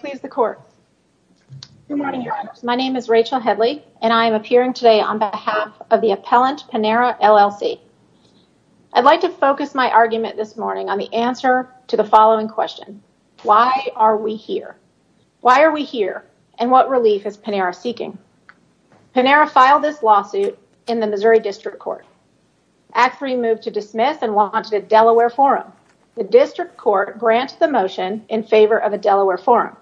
Please the court. My name is Rachel Headley and I'm appearing today on behalf of the appellant Panera, LLC. I'd like to focus my argument this morning on the answer to the following question. Why are we here? Why are we here? And what relief is Panera seeking? Panera filed this lawsuit in the Missouri District Court. Act III moved to dismiss and launched a Delaware forum. The district court granted the motion in favor of a Delaware forum.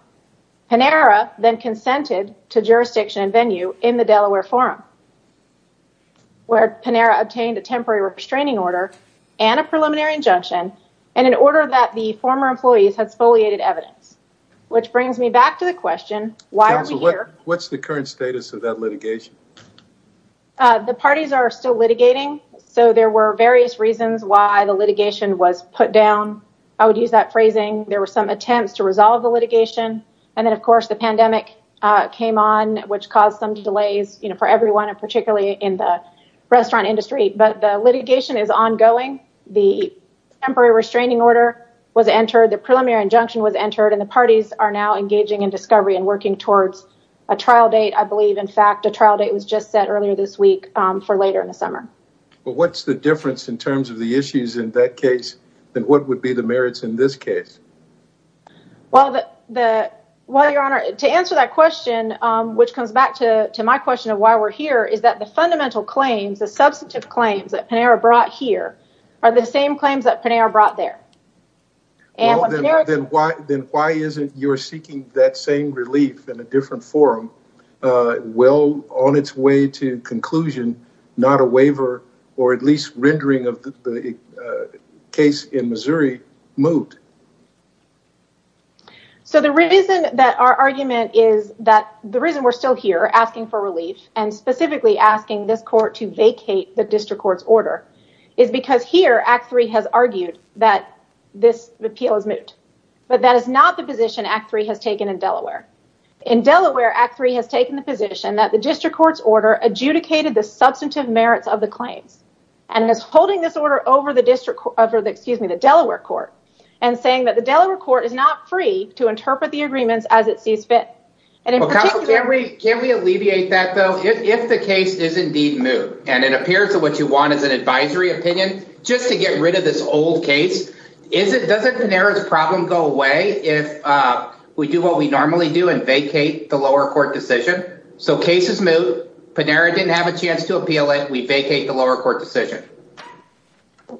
Panera then consented to jurisdiction and venue in the Delaware forum where Panera obtained a temporary restraining order and a preliminary injunction and an order that the former employees had spoliated evidence. Which brings me back to the question, why are we here? What's the current status of that litigation? The parties are still litigating. So there were various reasons why the litigation was put down. I would use that phrasing. There were some attempts to resolve the litigation. And then, of course, the pandemic came on, which caused some delays for everyone, and particularly in the restaurant industry. But the litigation is ongoing. The temporary restraining order was entered, the preliminary injunction was entered, and the parties are now this week for later in the summer. What's the difference in terms of the issues in that case than what would be the merits in this case? To answer that question, which comes back to my question of why we're here, is that the fundamental claims, the substantive claims that Panera brought here are the same claims that Panera brought there. Well, then why isn't your seeking that same relief in a different form? Well, on its way to conclusion, not a waiver, or at least rendering of the case in Missouri, moved. So the reason that our argument is that the reason we're still here asking for relief, and specifically asking this court to vacate the district court's order, is because here Act 3 has argued that this appeal is moot. But that is not the position Act 3 has taken in Delaware. In Delaware, Act 3 has taken the position that the district court's order adjudicated the substantive merits of the claims, and is holding this order over the Delaware court, and saying that the Delaware court is not free to interpret the agreements as it sees fit. Can we alleviate that, though? If the case is indeed moot, and it appears that what you want is an advisory opinion, just to get rid of this old case, doesn't Panera's problem go away if we do what we normally do and vacate the lower court decision? So case is moot, Panera didn't have a chance to appeal it, we vacate the lower court decision.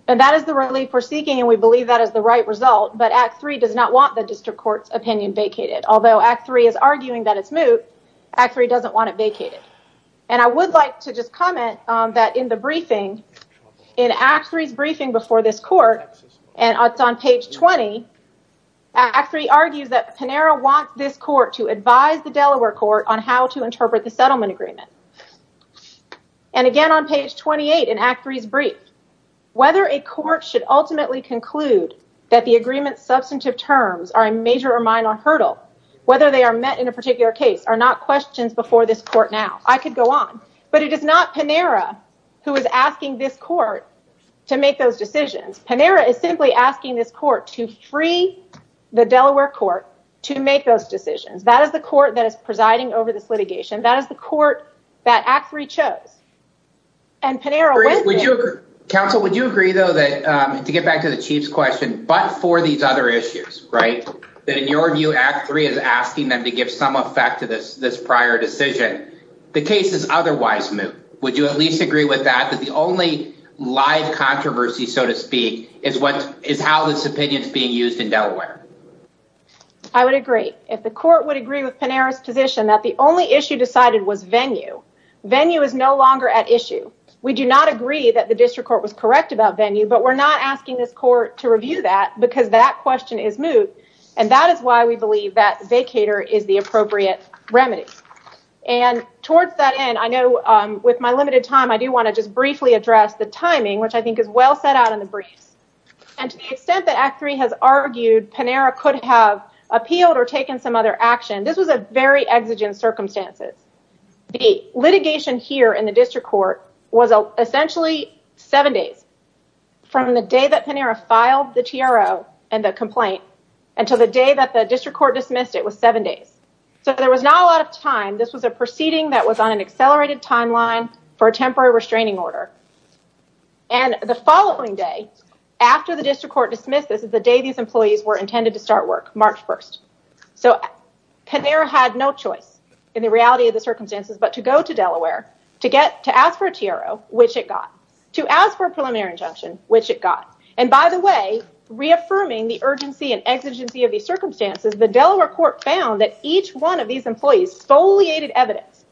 And that is the relief we're seeking, and we believe that is the right result. But Act 3 does not want the district court's opinion vacated. Although Act 3 is arguing that it's moot, Act 3 doesn't want it vacated. And I would like to just comment that in the briefing, in Act 3's briefing before this court, and it's on page 20, Act 3 argues that Panera wants this court to advise the Delaware court on how to interpret the settlement agreement. And again on page 28 in Act 3's brief, whether a court should ultimately conclude that the agreement's substantive terms are a major or minor hurdle, whether they are met in a particular case are not questions before this court now. I could go on. But it is not Panera who is asking this court to make those decisions. Panera is simply asking this court to free the Delaware court to make those decisions. That is the court that is presiding over this litigation. That is the court that Act 3 chose. And Panera went there- Council, would you agree though that, to get back to the Chief's question, but for these other issues, right? That in your view, Act 3 is asking them to give some effect to this prior decision. The case is otherwise moot. Would you at least agree with that? That the only live controversy, so to speak, is how this opinion's being used in Delaware. I would agree. If the court would agree with Panera's position that the only issue decided was venue, venue is no longer at issue. We do not agree that the district court was correct about venue, but we're not asking this court to review that because that that vacator is the appropriate remedy. And towards that end, I know with my limited time, I do want to just briefly address the timing, which I think is well set out in the briefs. And to the extent that Act 3 has argued Panera could have appealed or taken some other action, this was a very exigent circumstances. The litigation here in the district court was essentially seven days from the day that Panera filed the TRO and the complaint until the day that the district court dismissed it was seven days. So there was not a lot of time. This was a proceeding that was on an accelerated timeline for a temporary restraining order. And the following day after the district court dismissed this is the day these employees were intended to start work, March 1st. So Panera had no choice in the reality of the circumstances but to go to Delaware to get to ask for a TRO, which it got, to ask for a preliminary injunction, which it got. And by the reaffirming the urgency and exigency of the circumstances, the Delaware court found that each one of these employees foliated evidence,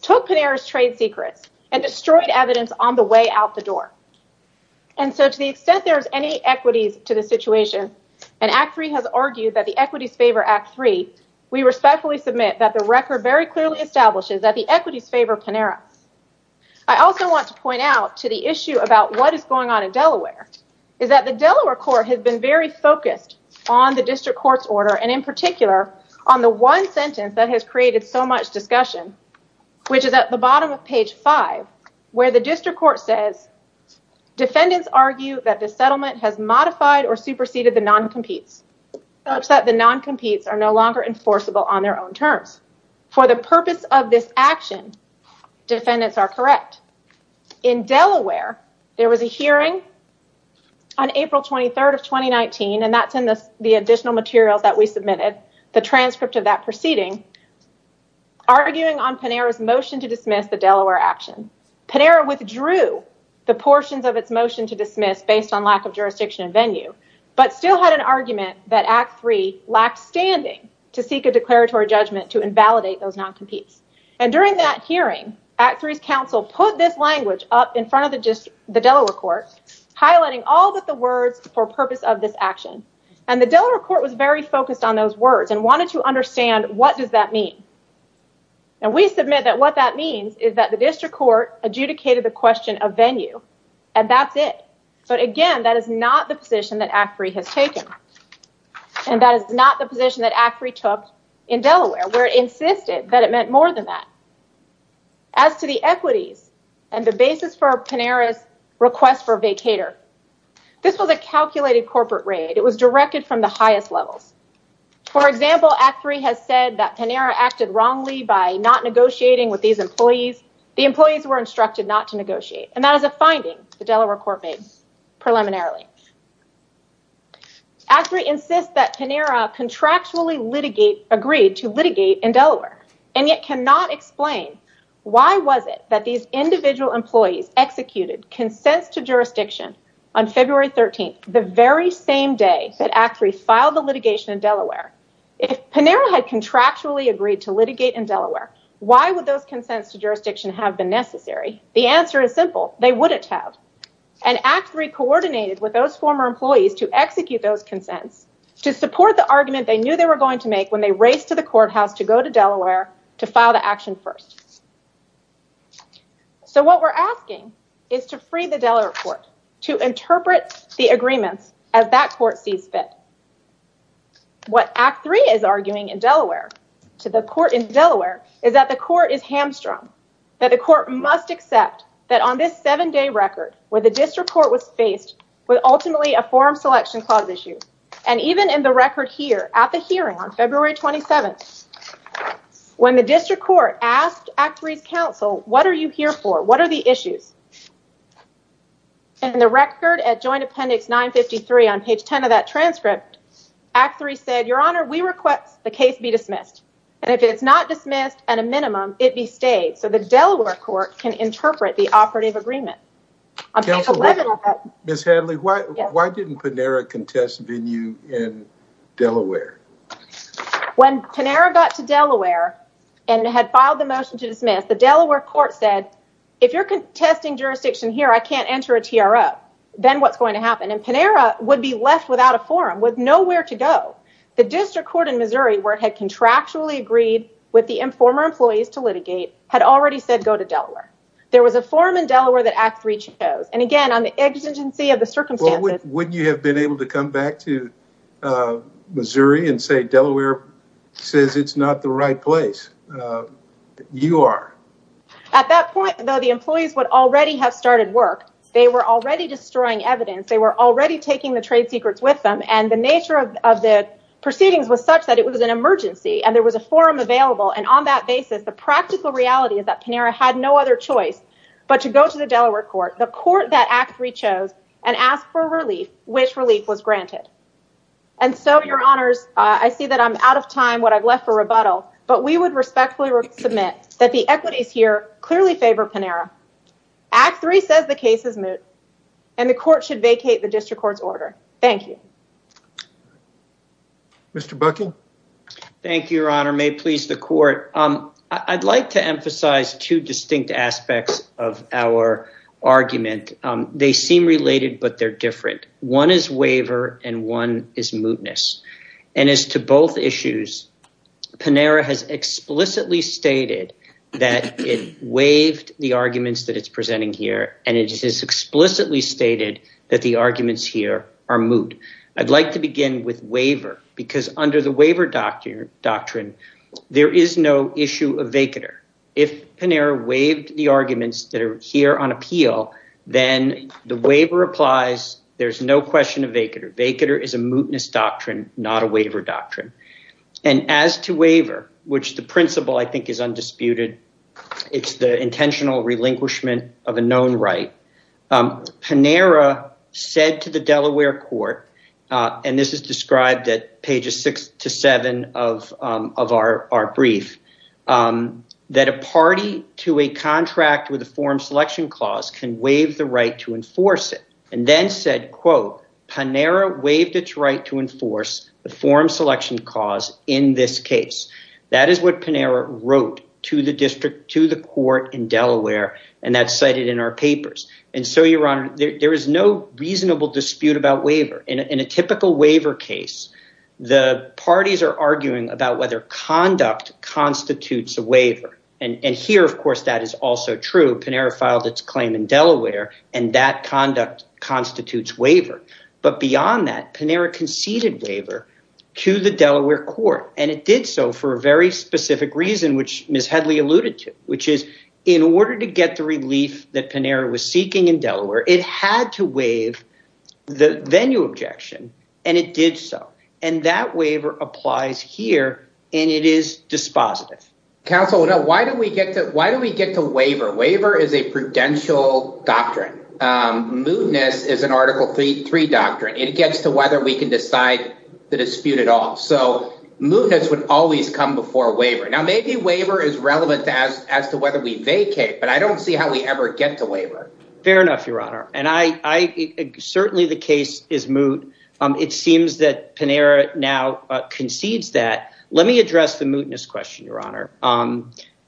took Panera's trade secrets and destroyed evidence on the way out the door. And so to the extent there's any equities to the situation and Act 3 has argued that the equities favor Act 3, we respectfully submit that the record very clearly establishes that the equities favor Panera. I also want to point out to the issue about what is going on in Delaware, is that the Delaware court has been very focused on the district court's order. And in particular, on the one sentence that has created so much discussion, which is at the bottom of page five, where the district court says, defendants argue that the settlement has modified or superseded the non-competes, such that the non-competes are no longer enforceable on their own terms. For the purpose of this action, defendants are correct. In Delaware, there was a hearing on April 23rd of 2019, and that's in the additional materials that we submitted, the transcript of that proceeding, arguing on Panera's motion to dismiss the Delaware action. Panera withdrew the portions of its motion to dismiss based on lack of jurisdiction and venue, but still had an argument that Act 3 lacked standing to seek a declaratory judgment to validate those non-competes. And during that hearing, Act 3's counsel put this language up in front of the Delaware court, highlighting all but the words for purpose of this action. And the Delaware court was very focused on those words and wanted to understand what does that mean. And we submit that what that means is that the district court adjudicated the question of venue, and that's it. But again, that is not the position that Act 3 has taken. And that is not position that Act 3 took in Delaware, where it insisted that it meant more than that. As to the equities and the basis for Panera's request for vacator, this was a calculated corporate raid. It was directed from the highest levels. For example, Act 3 has said that Panera acted wrongly by not negotiating with these employees. The employees were instructed not to negotiate. And that is a finding the Delaware court made preliminarily. Act 3 insists that Panera had contractually agreed to litigate in Delaware, and yet cannot explain why was it that these individual employees executed consents to jurisdiction on February 13th, the very same day that Act 3 filed the litigation in Delaware. If Panera had contractually agreed to litigate in Delaware, why would those consents to jurisdiction have been necessary? The answer is simple. They wouldn't have. And Act 3 coordinated with those former employees to support the argument they knew they were going to make when they raced to the courthouse to go to Delaware to file the action first. So what we're asking is to free the Delaware court to interpret the agreements as that court sees fit. What Act 3 is arguing in Delaware, to the court in Delaware, is that the court is hamstrung, that the court must accept that on this seven-day record, where the district court was faced with ultimately a forum selection clause issue, and even in the record here, at the hearing on February 27th, when the district court asked Act 3's counsel, what are you here for? What are the issues? In the record at Joint Appendix 953 on page 10 of that transcript, Act 3 said, Your Honor, we request the case be dismissed. And if it's not dismissed at a minimum, it be stayed, so the Delaware court can interpret the operative agreement. On page 11 of that— Ms. Hadley, why didn't Panera contest venue in Delaware? When Panera got to Delaware and had filed the motion to dismiss, the Delaware court said, if you're contesting jurisdiction here, I can't enter a TRO. Then what's going to happen? And Panera would be left without a forum, with nowhere to go. The district court in Missouri, where it had contractually agreed with the former employees to litigate, had already said go to Delaware. There was a forum in Delaware that Act 3 chose. And again, on the exigency of the circumstances— Wouldn't you have been able to come back to Missouri and say Delaware says it's not the right place? You are. At that point, though, the employees would already have started work. They were already destroying evidence. They were already taking the trade secrets with them. And the nature of the proceedings was such that it was an emergency, and there was a forum available. And on that basis, the practical reality is that Panera had no other choice but to go to the Delaware court, the court that Act 3 chose, and ask for relief, which relief was granted. And so, your honors, I see that I'm out of time, what I've left for rebuttal, but we would respectfully submit that the equities here clearly favor Panera. Act 3 says the case is moot, and the court should vacate the district court's order. Thank you. Mr. Buckey? Thank you, your honor. May it please the court. I'd like to emphasize two distinct aspects of our argument. They seem related, but they're different. One is waiver, and one is mootness. And as to both issues, Panera has explicitly stated that it waived the arguments that it's presenting here, and it has explicitly stated that the arguments here are moot. I'd like to begin with waiver, because under the waiver doctrine, there is no issue of vacater. If Panera waived the arguments that are here on appeal, then the waiver applies. There's no question of vacater. Vacater is a mootness doctrine, not a waiver doctrine. And as to waiver, which the principle I think is undisputed, it's the intentional relinquishment of a known right. Panera said to the Delaware court, and this is described at pages six to seven of our brief, that a party to a contract with a forum selection clause can waive the right to enforce it, and then said, quote, Panera waived its right to enforce the forum selection cause in this case. That is what Panera wrote to the court in Delaware, and that's cited in our papers. And so, your honor, there is no reasonable dispute about waiver. In a typical waiver case, the parties are arguing about whether conduct constitutes a waiver. And here, of course, that is also true. Panera filed its claim in Delaware, and that conduct constitutes waiver. But beyond that, Panera conceded waiver to the Delaware court, and it did so for a very specific reason, which Ms. Headley alluded to, which is, in order to get the relief that Panera was seeking in Delaware, it had to waive the venue objection, and it did so. And that waiver applies here, and it is dispositive. Counsel, why don't we get to waiver? Waiver is a prudential doctrine. Mootness is an Article III doctrine. It gets to whether we can decide the dispute at all. So, mootness would always come before waiver. Now, maybe waiver is relevant as to whether we vacate, but I don't see how we ever get to waiver. Fair enough, your honor. Certainly, the case is moot. It seems that Panera now concedes that. Let me address the mootness question, your honor.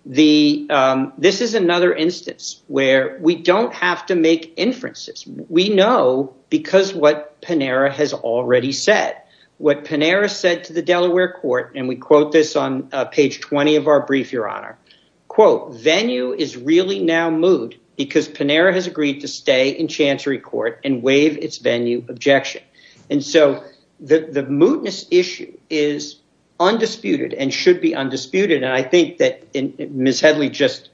This is another instance where we don't have to make inferences. We know because what Panera has already said. What Panera said to the Delaware court, and we quote this on page 20 of our brief, your honor, quote, venue is really now moot because Panera has agreed to stay in Chancery Court and waive its venue objection. And so, the mootness issue is undisputed and should be undisputed, and I think that Ms. Headley just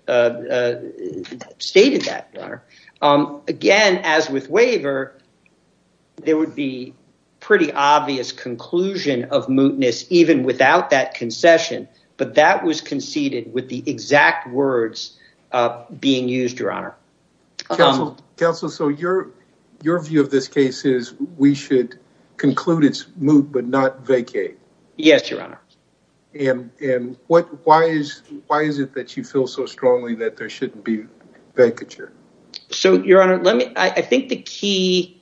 stated that, your honor. Again, as with waiver, there would be pretty obvious conclusion of without that concession, but that was conceded with the exact words being used, your honor. Counsel, so your view of this case is we should conclude its moot but not vacate. Yes, your honor. And why is it that you feel so strongly that there shouldn't be vacature? So, your honor, I think the key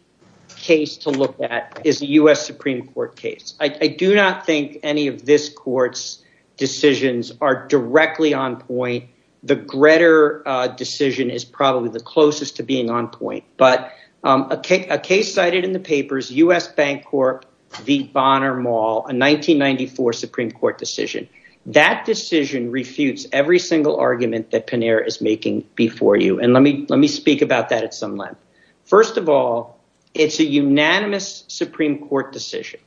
case to look at is the U.S. Supreme Court case. I do not think any of this court's decisions are directly on point. The Gretter decision is probably the closest to being on point, but a case cited in the papers, U.S. Bank Corp v. Bonner Mall, a 1994 Supreme Court decision. That decision refutes every single argument that Panera is making before you, and let me speak about that at some length. First of all, it's a unanimous Supreme Court decision,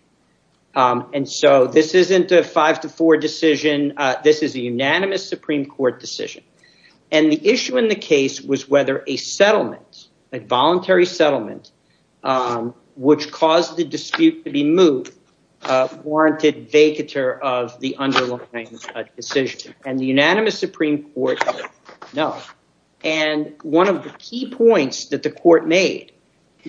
and so this isn't a five to four decision. This is a unanimous Supreme Court decision, and the issue in the case was whether a settlement, a voluntary settlement, which caused the dispute to be moot, warranted vacature of the underlying decision, and the unanimous Supreme Court said no. And one of the key points that the court made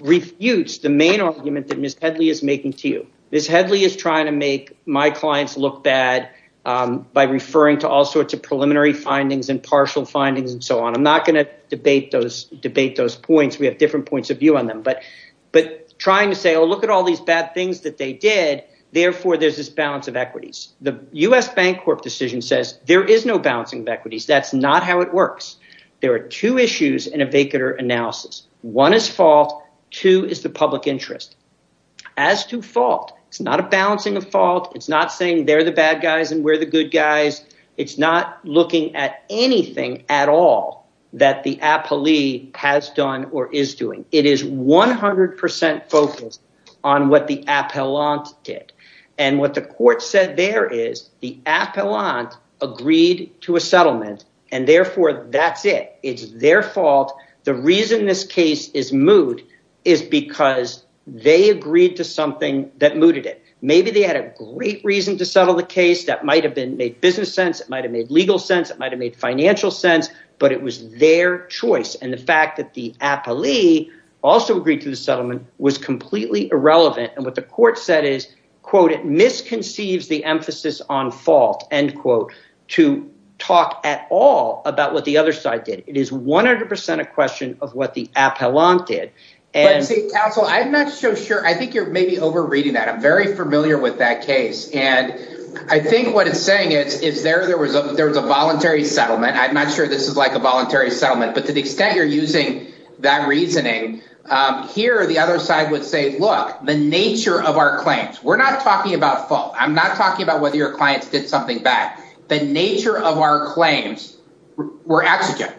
refutes the main argument that Ms. Headley is making to you. Ms. Headley is trying to make my clients look bad by referring to all sorts of preliminary findings and partial findings and so on. I'm not going to debate those points. We have different points of view on them, but trying to say, oh, look at all these bad things that they did. Therefore, there's this balance of equities. The U.S. Bank Corp decision says there is no balancing of equities. That's not how it works. There are two issues in a vacatur analysis. One is fault. Two is the public interest. As to fault, it's not a balancing of fault. It's not saying they're the bad guys and we're the good guys. It's not looking at anything at all that the appellee has done or is doing. It is 100% focused on what the appellant did, and what the court said there is the appellant agreed to a settlement, and therefore that's it. It's their fault. The reason this case is moot is because they agreed to something that mooted it. Maybe they had a great reason to settle the case that might have been made business sense, it might have made legal sense, it might have made financial sense, but it was their choice. And the fact that the appellee also agreed to the settlement was completely irrelevant. And what the court said is, quote, it misconceives the emphasis on fault, end quote, to talk at all about what the other side did. It is 100% a question of what the appellant did. But see, counsel, I'm not so sure. I think you're maybe overreading that. I'm very familiar with that case. And I think what it's saying is there was a voluntary settlement. I'm not sure this is like a voluntary settlement, but to the extent you're using that reasoning, here the other side would say, look, the nature of our claims, we're not talking about fault. I'm not talking about whether your clients did something bad. The nature of our claims were exigent.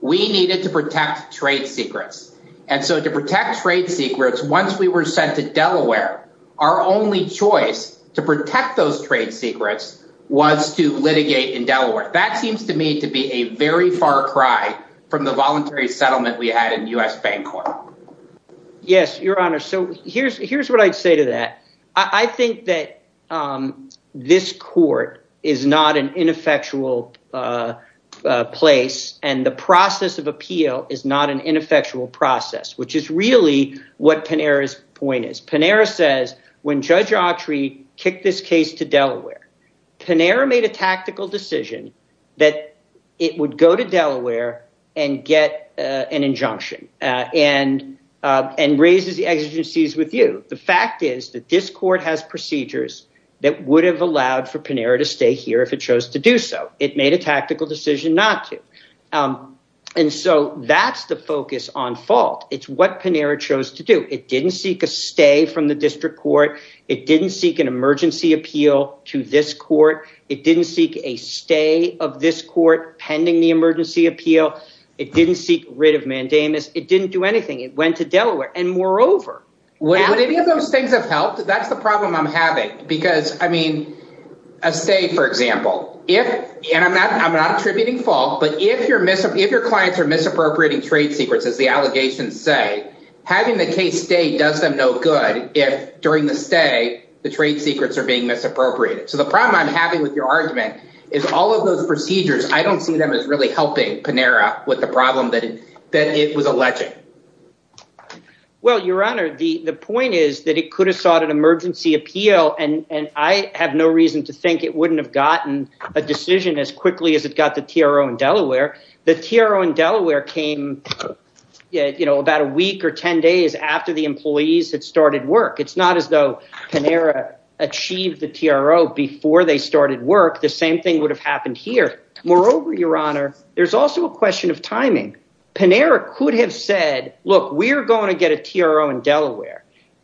We needed to protect trade secrets. And so to protect trade secrets, once we were sent to Delaware, our only choice to protect those trade secrets was to litigate in Delaware. That seems to me to be a very far cry from the voluntary settlement we had in US court. Yes, Your Honor. So here's what I'd say to that. I think that this court is not an ineffectual place and the process of appeal is not an ineffectual process, which is really what Panera's point is. Panera says when Judge Autry kicked this case to Delaware, Panera made a tactical decision that it would go to Delaware and get an injunction and raises the exigencies with you. The fact is that this court has procedures that would have allowed for Panera to stay here if it chose to do so. It made a tactical decision not to. And so that's the focus on fault. It's what Panera chose to do. It didn't seek a stay from the district court. It didn't seek an emergency appeal to this court. It didn't seek a stay of this court pending the emergency appeal. It didn't seek rid of Mandamus. It didn't do anything. It went to Delaware. And moreover, would any of those things have helped? That's the problem I'm having because I mean, a say, for example, if and I'm not attributing fault, but if you're missing, if your clients are misappropriating trade secrets, as the allegations say, having the case stay does them no good if during the stay, the trade secrets are being misappropriated. So the problem I'm having with your argument is all of those procedures, I don't see them as really helping Panera with the problem that it was alleging. Well, Your Honor, the point is that it could have sought an emergency appeal, and I have no reason to think it wouldn't have gotten a decision as quickly as it got the TRO in Delaware. The TRO in Delaware came, you know, about a week or 10 days after the employees had started work. It's not as though Panera achieved the TRO before they started work. The same thing would have happened here. Moreover, Your Honor, there's also a question of timing. Panera could have said, look, we're going to get a TRO in Delaware.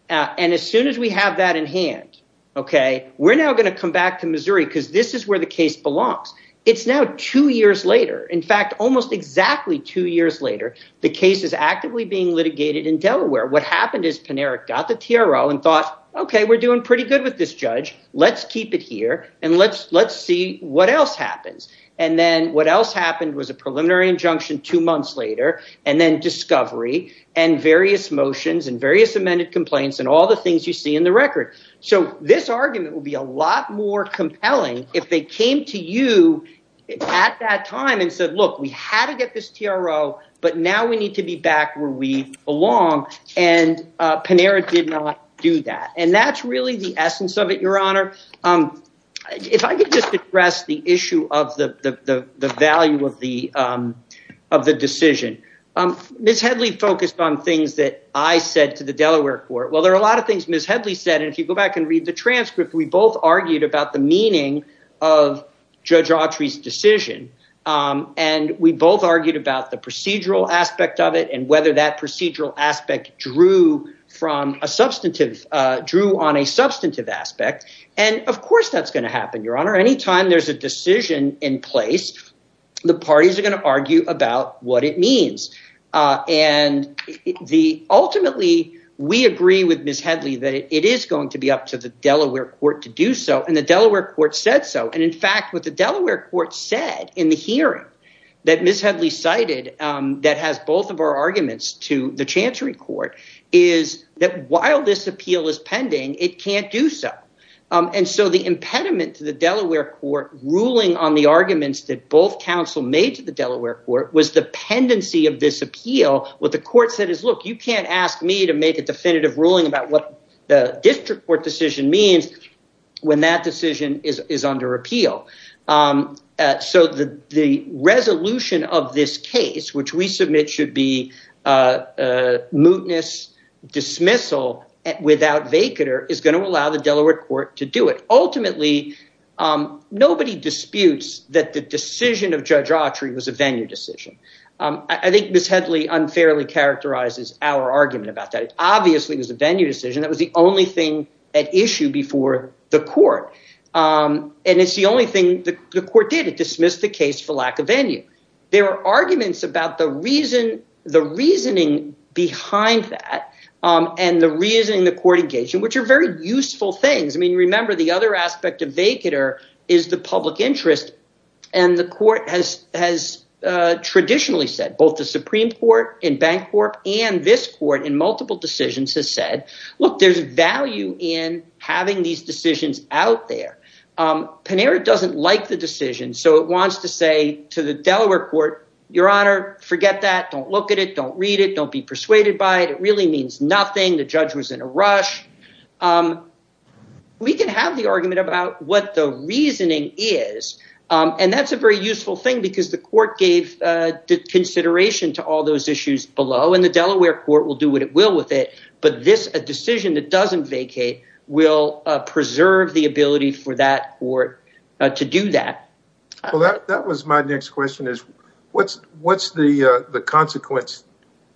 And as soon as we have that in hand, okay, we're now going to come back to Missouri because this is where the case belongs. It's now two years later. In fact, almost exactly two years later, the case is actively being litigated in Delaware. What happened is Panera got the TRO and thought, okay, we're doing pretty good with this judge. Let's keep it here and let's see what else happens. And then what else happened was a preliminary injunction two months later, and then discovery and various motions and various amended complaints and all the things you see in record. So this argument will be a lot more compelling if they came to you at that time and said, look, we had to get this TRO, but now we need to be back where we belong. And Panera did not do that. And that's really the essence of it, Your Honor. If I could just address the issue of the value of the decision. Ms. Headley focused on things that I said to the Delaware court. Well, there are a lot of things Ms. Headley said. And if you go back and read the transcript, we both argued about the meaning of Judge Autry's decision. And we both argued about the procedural aspect of it and whether that procedural aspect drew on a substantive aspect. And of course that's going to happen, Your Honor. Anytime there's a decision in place, the parties are going to argue about what it means. And ultimately we agree with Ms. Headley that it is going to be up to the Delaware court to do so. And the Delaware court said so. And in fact, what the Delaware court said in the hearing that Ms. Headley cited that has both of our arguments to the Chancery court is that while this appeal is pending, it can't do so. And so the impediment to the Delaware court ruling on the arguments that both counsel made to the Delaware court was the pendency of this appeal. What the court said is, look, you can't ask me to make a definitive ruling about what the district court decision means when that decision is under appeal. So the resolution of this case, which we submit should be a mootness dismissal without vacater, is going to allow the Delaware court to do it. Ultimately, nobody disputes that the decision of Judge Autry was a venue decision. I think Ms. Headley unfairly characterizes our argument about that. It obviously was a venue decision. That was the only thing at issue before the court. And it's the only thing the court did. It dismissed the case for lack of venue. There are arguments about the reasoning behind that and the reasoning the court engaged in, which are very useful things. I mean, remember, the other aspect of vacater is the public interest. And the court has traditionally said both the Supreme Court and Bank Corp and this court in multiple decisions has said, look, there's value in having these decisions out there. Panera doesn't like the decision. So it wants to say to the Delaware court, your honor, forget that. Don't look at it. Don't read it. Don't be persuaded by it. It really means nothing. The judge was in a rush. We can have the argument about what the reasoning is, and that's a very useful thing because the court gave consideration to all those issues below and the Delaware court will do what it will with it. But this a decision that doesn't vacate will preserve the ability for that or to do that. Well, that was my next question is what's the consequence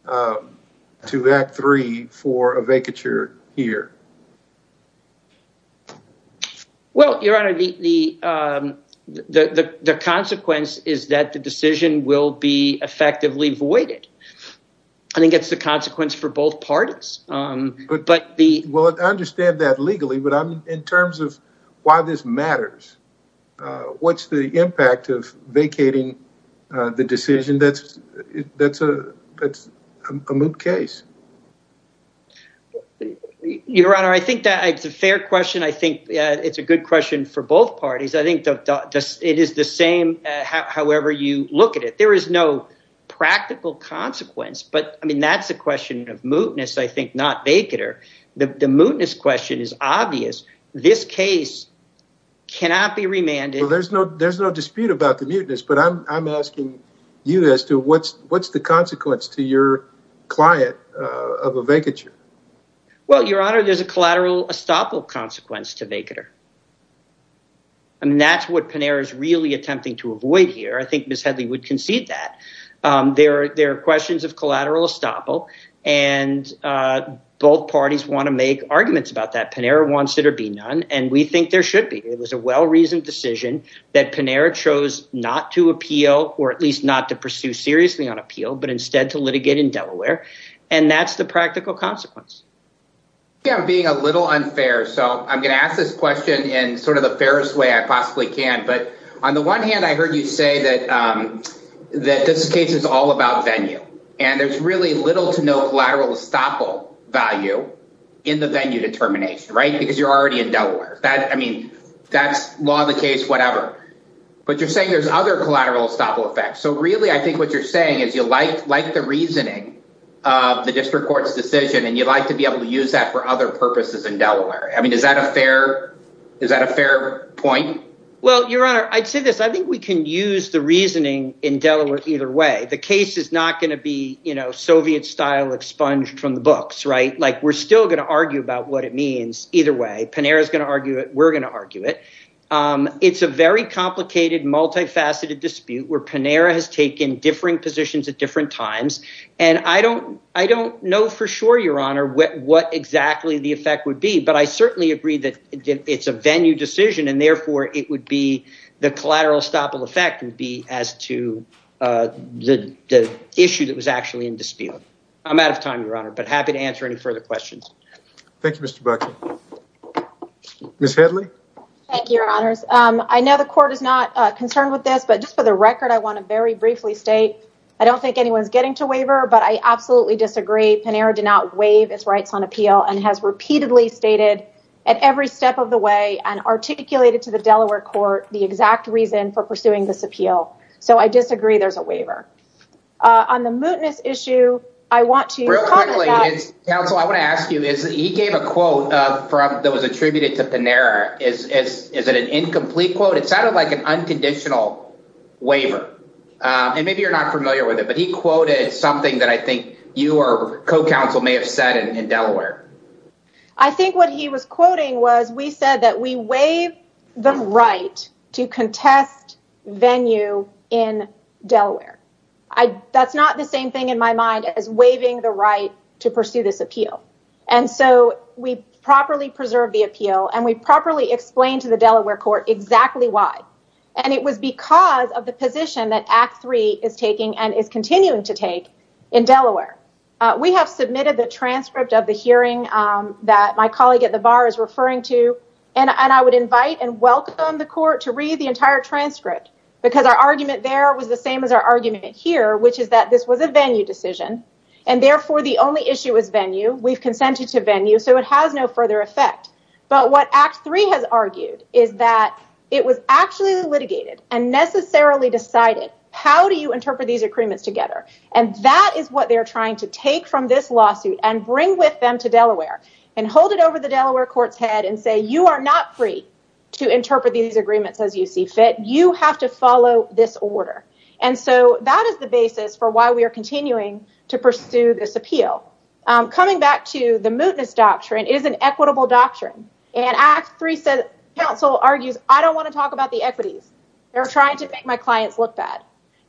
to that three for a vacature here? Well, your honor, the consequence is that the decision will be effectively voided. I think it's the consequence for both parties. But the well, I understand that legally, but in terms of why this matters, what's the impact of vacating the decision? That's a case. Your honor, I think that it's a fair question. I think it's a good question for both parties. I think it is the same. However, you look at it, there is no practical consequence. But I mean, that's a question of mootness, I think, not vacater. The mootness question is obvious. This case cannot be remanded. There's no dispute about the mutinous, but I'm asking you as to what's the consequence to your client of a vacature? Well, your honor, there's a collateral estoppel consequence to vacater. And that's what Panera is really attempting to avoid here. I think Miss Hedley would concede that. There are questions of collateral estoppel. And both parties want to make arguments about that. Panera wants it or be none. And we think there should be. It was a well-reasoned decision that Panera chose not to appeal or at least not to pursue seriously on appeal, but instead to litigate in Delaware. And that's the practical consequence. Yeah, I'm being a little unfair. So I'm going to ask this question in sort of the fairest way I can. But on the one hand, I heard you say that this case is all about venue and there's really little to no collateral estoppel value in the venue determination, right? Because you're already in Delaware. I mean, that's law of the case, whatever. But you're saying there's other collateral estoppel effects. So really, I think what you're saying is you like the reasoning of the district court's decision and you'd like to be able to use that for other purposes in Well, Your Honor, I'd say this. I think we can use the reasoning in Delaware either way. The case is not going to be, you know, Soviet style expunged from the books, right? Like we're still going to argue about what it means either way. Panera is going to argue it. We're going to argue it. It's a very complicated, multifaceted dispute where Panera has taken differing positions at different times. And I don't I don't know for sure, Your Honor, what exactly the effect would but I certainly agree that it's a venue decision and therefore it would be the collateral estoppel effect would be as to the issue that was actually in dispute. I'm out of time, Your Honor, but happy to answer any further questions. Thank you, Mr. Buckley. Ms. Headley. Thank you, Your Honors. I know the court is not concerned with this, but just for the record, I want to very briefly state I don't think anyone's getting to waiver, but I absolutely disagree. Panera did not waive its rights on appeal and has repeatedly stated at every step of the way and articulated to the Delaware court the exact reason for pursuing this appeal. So I disagree there's a waiver. On the mootness issue, I want to- Real quickly, counsel, I want to ask you is he gave a quote that was attributed to Panera. Is it an incomplete quote? It sounded like an unconditional waiver. And maybe you're not familiar with it, but he quoted something that I think your co-counsel may have said in Delaware. I think what he was quoting was we said that we waive the right to contest venue in Delaware. That's not the same thing in my mind as waiving the right to pursue this appeal. And so we properly preserve the appeal and we properly explain to the Delaware court exactly why. And it was because of the position that Act 3 is taking and is continuing to take in Delaware. We have submitted the transcript of the hearing that my colleague at the bar is referring to. And I would invite and welcome the court to read the entire transcript because our argument there was the same as our argument here, which is that this was a venue decision. And therefore the only issue is venue. We've consented to venue. So it has no further effect. But what Act 3 has argued is that it was actually litigated and necessarily decided how do you interpret these agreements together? And that is what they're trying to take from this lawsuit and bring with them to Delaware and hold it over the Delaware court's head and say you are not free to interpret these agreements as you see fit. You have to follow this order. And so that is the basis for why we are continuing to pursue this appeal. Coming back to the mootness doctrine, it is an equitable doctrine. And Act 3 says counsel argues I don't want to talk about the equities. They're trying to make my clients look bad.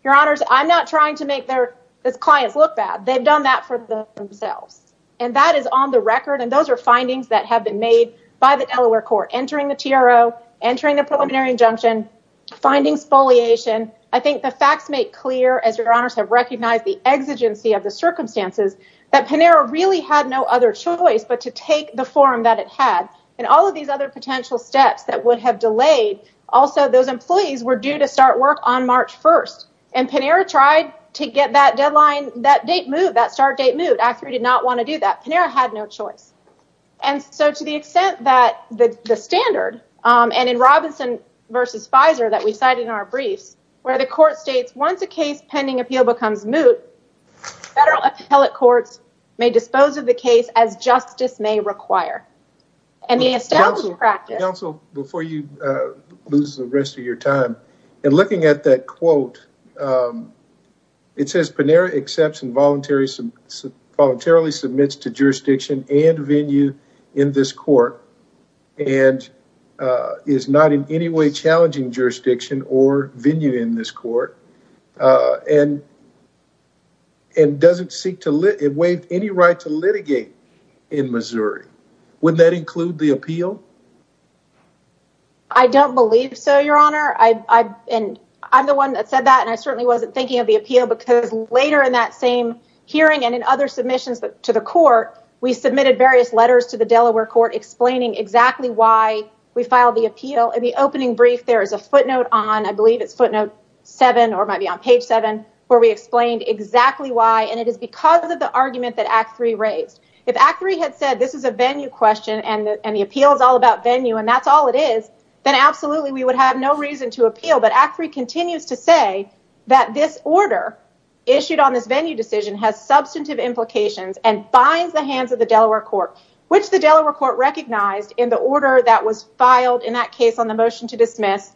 Your honors, I'm not trying to make their clients look bad. They've done that for themselves. And that is on the record. And those are findings that have been made by the Delaware court entering the TRO, entering the preliminary injunction, finding spoliation. I think the facts make clear as your honors have recognized the exigency of the circumstances that Panera really had no other choice but to take the forum that it had and all employees were due to start work on March 1st. And Panera tried to get that deadline, that start date moot. Act 3 did not want to do that. Panera had no choice. And so to the extent that the standard and in Robinson versus Pfizer that we cited in our briefs where the court states once a case pending appeal becomes moot, federal appellate courts may dispose of the case as the rest of your time. And looking at that quote, it says Panera accepts and voluntarily submits to jurisdiction and venue in this court and is not in any way challenging jurisdiction or venue in this court. And doesn't seek to waive any right to litigate in Missouri. Would that include the appeal? I don't believe so, your honor. And I'm the one that said that, and I certainly wasn't thinking of the appeal because later in that same hearing and in other submissions to the court, we submitted various letters to the Delaware court explaining exactly why we filed the appeal. In the opening brief, there is a footnote on, I believe it's footnote seven, or it might be on page seven, where we explained exactly why. And it is because of the question and the appeal is all about venue and that's all it is. Then absolutely we would have no reason to appeal, but act three continues to say that this order issued on this venue decision has substantive implications and binds the hands of the Delaware court, which the Delaware court recognized in the order that was filed in that case on the motion to dismiss.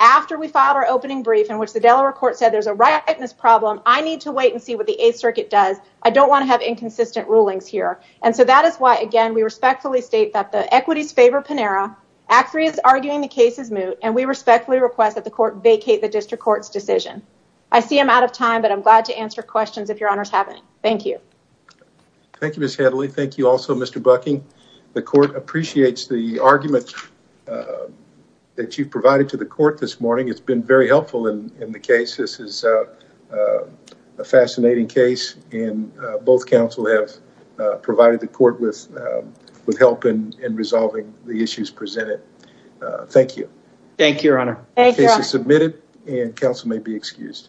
After we filed our opening brief in which the Delaware court said, there's a rightness problem. I need to wait and see what the eighth circuit does. I don't want to have inconsistent rulings here. And so that is why we respectfully state that the equities favor Panera, act three is arguing the case is moot, and we respectfully request that the court vacate the district court's decision. I see I'm out of time, but I'm glad to answer questions if your honors haven't. Thank you. Thank you, Ms. Hadley. Thank you also, Mr. Bucking. The court appreciates the argument that you've provided to the court this morning. It's been very helpful in the case. This is a fascinating case and both counsel have provided the court with help in resolving the issues presented. Thank you. Thank you, your honor. Case is submitted and counsel may be excused.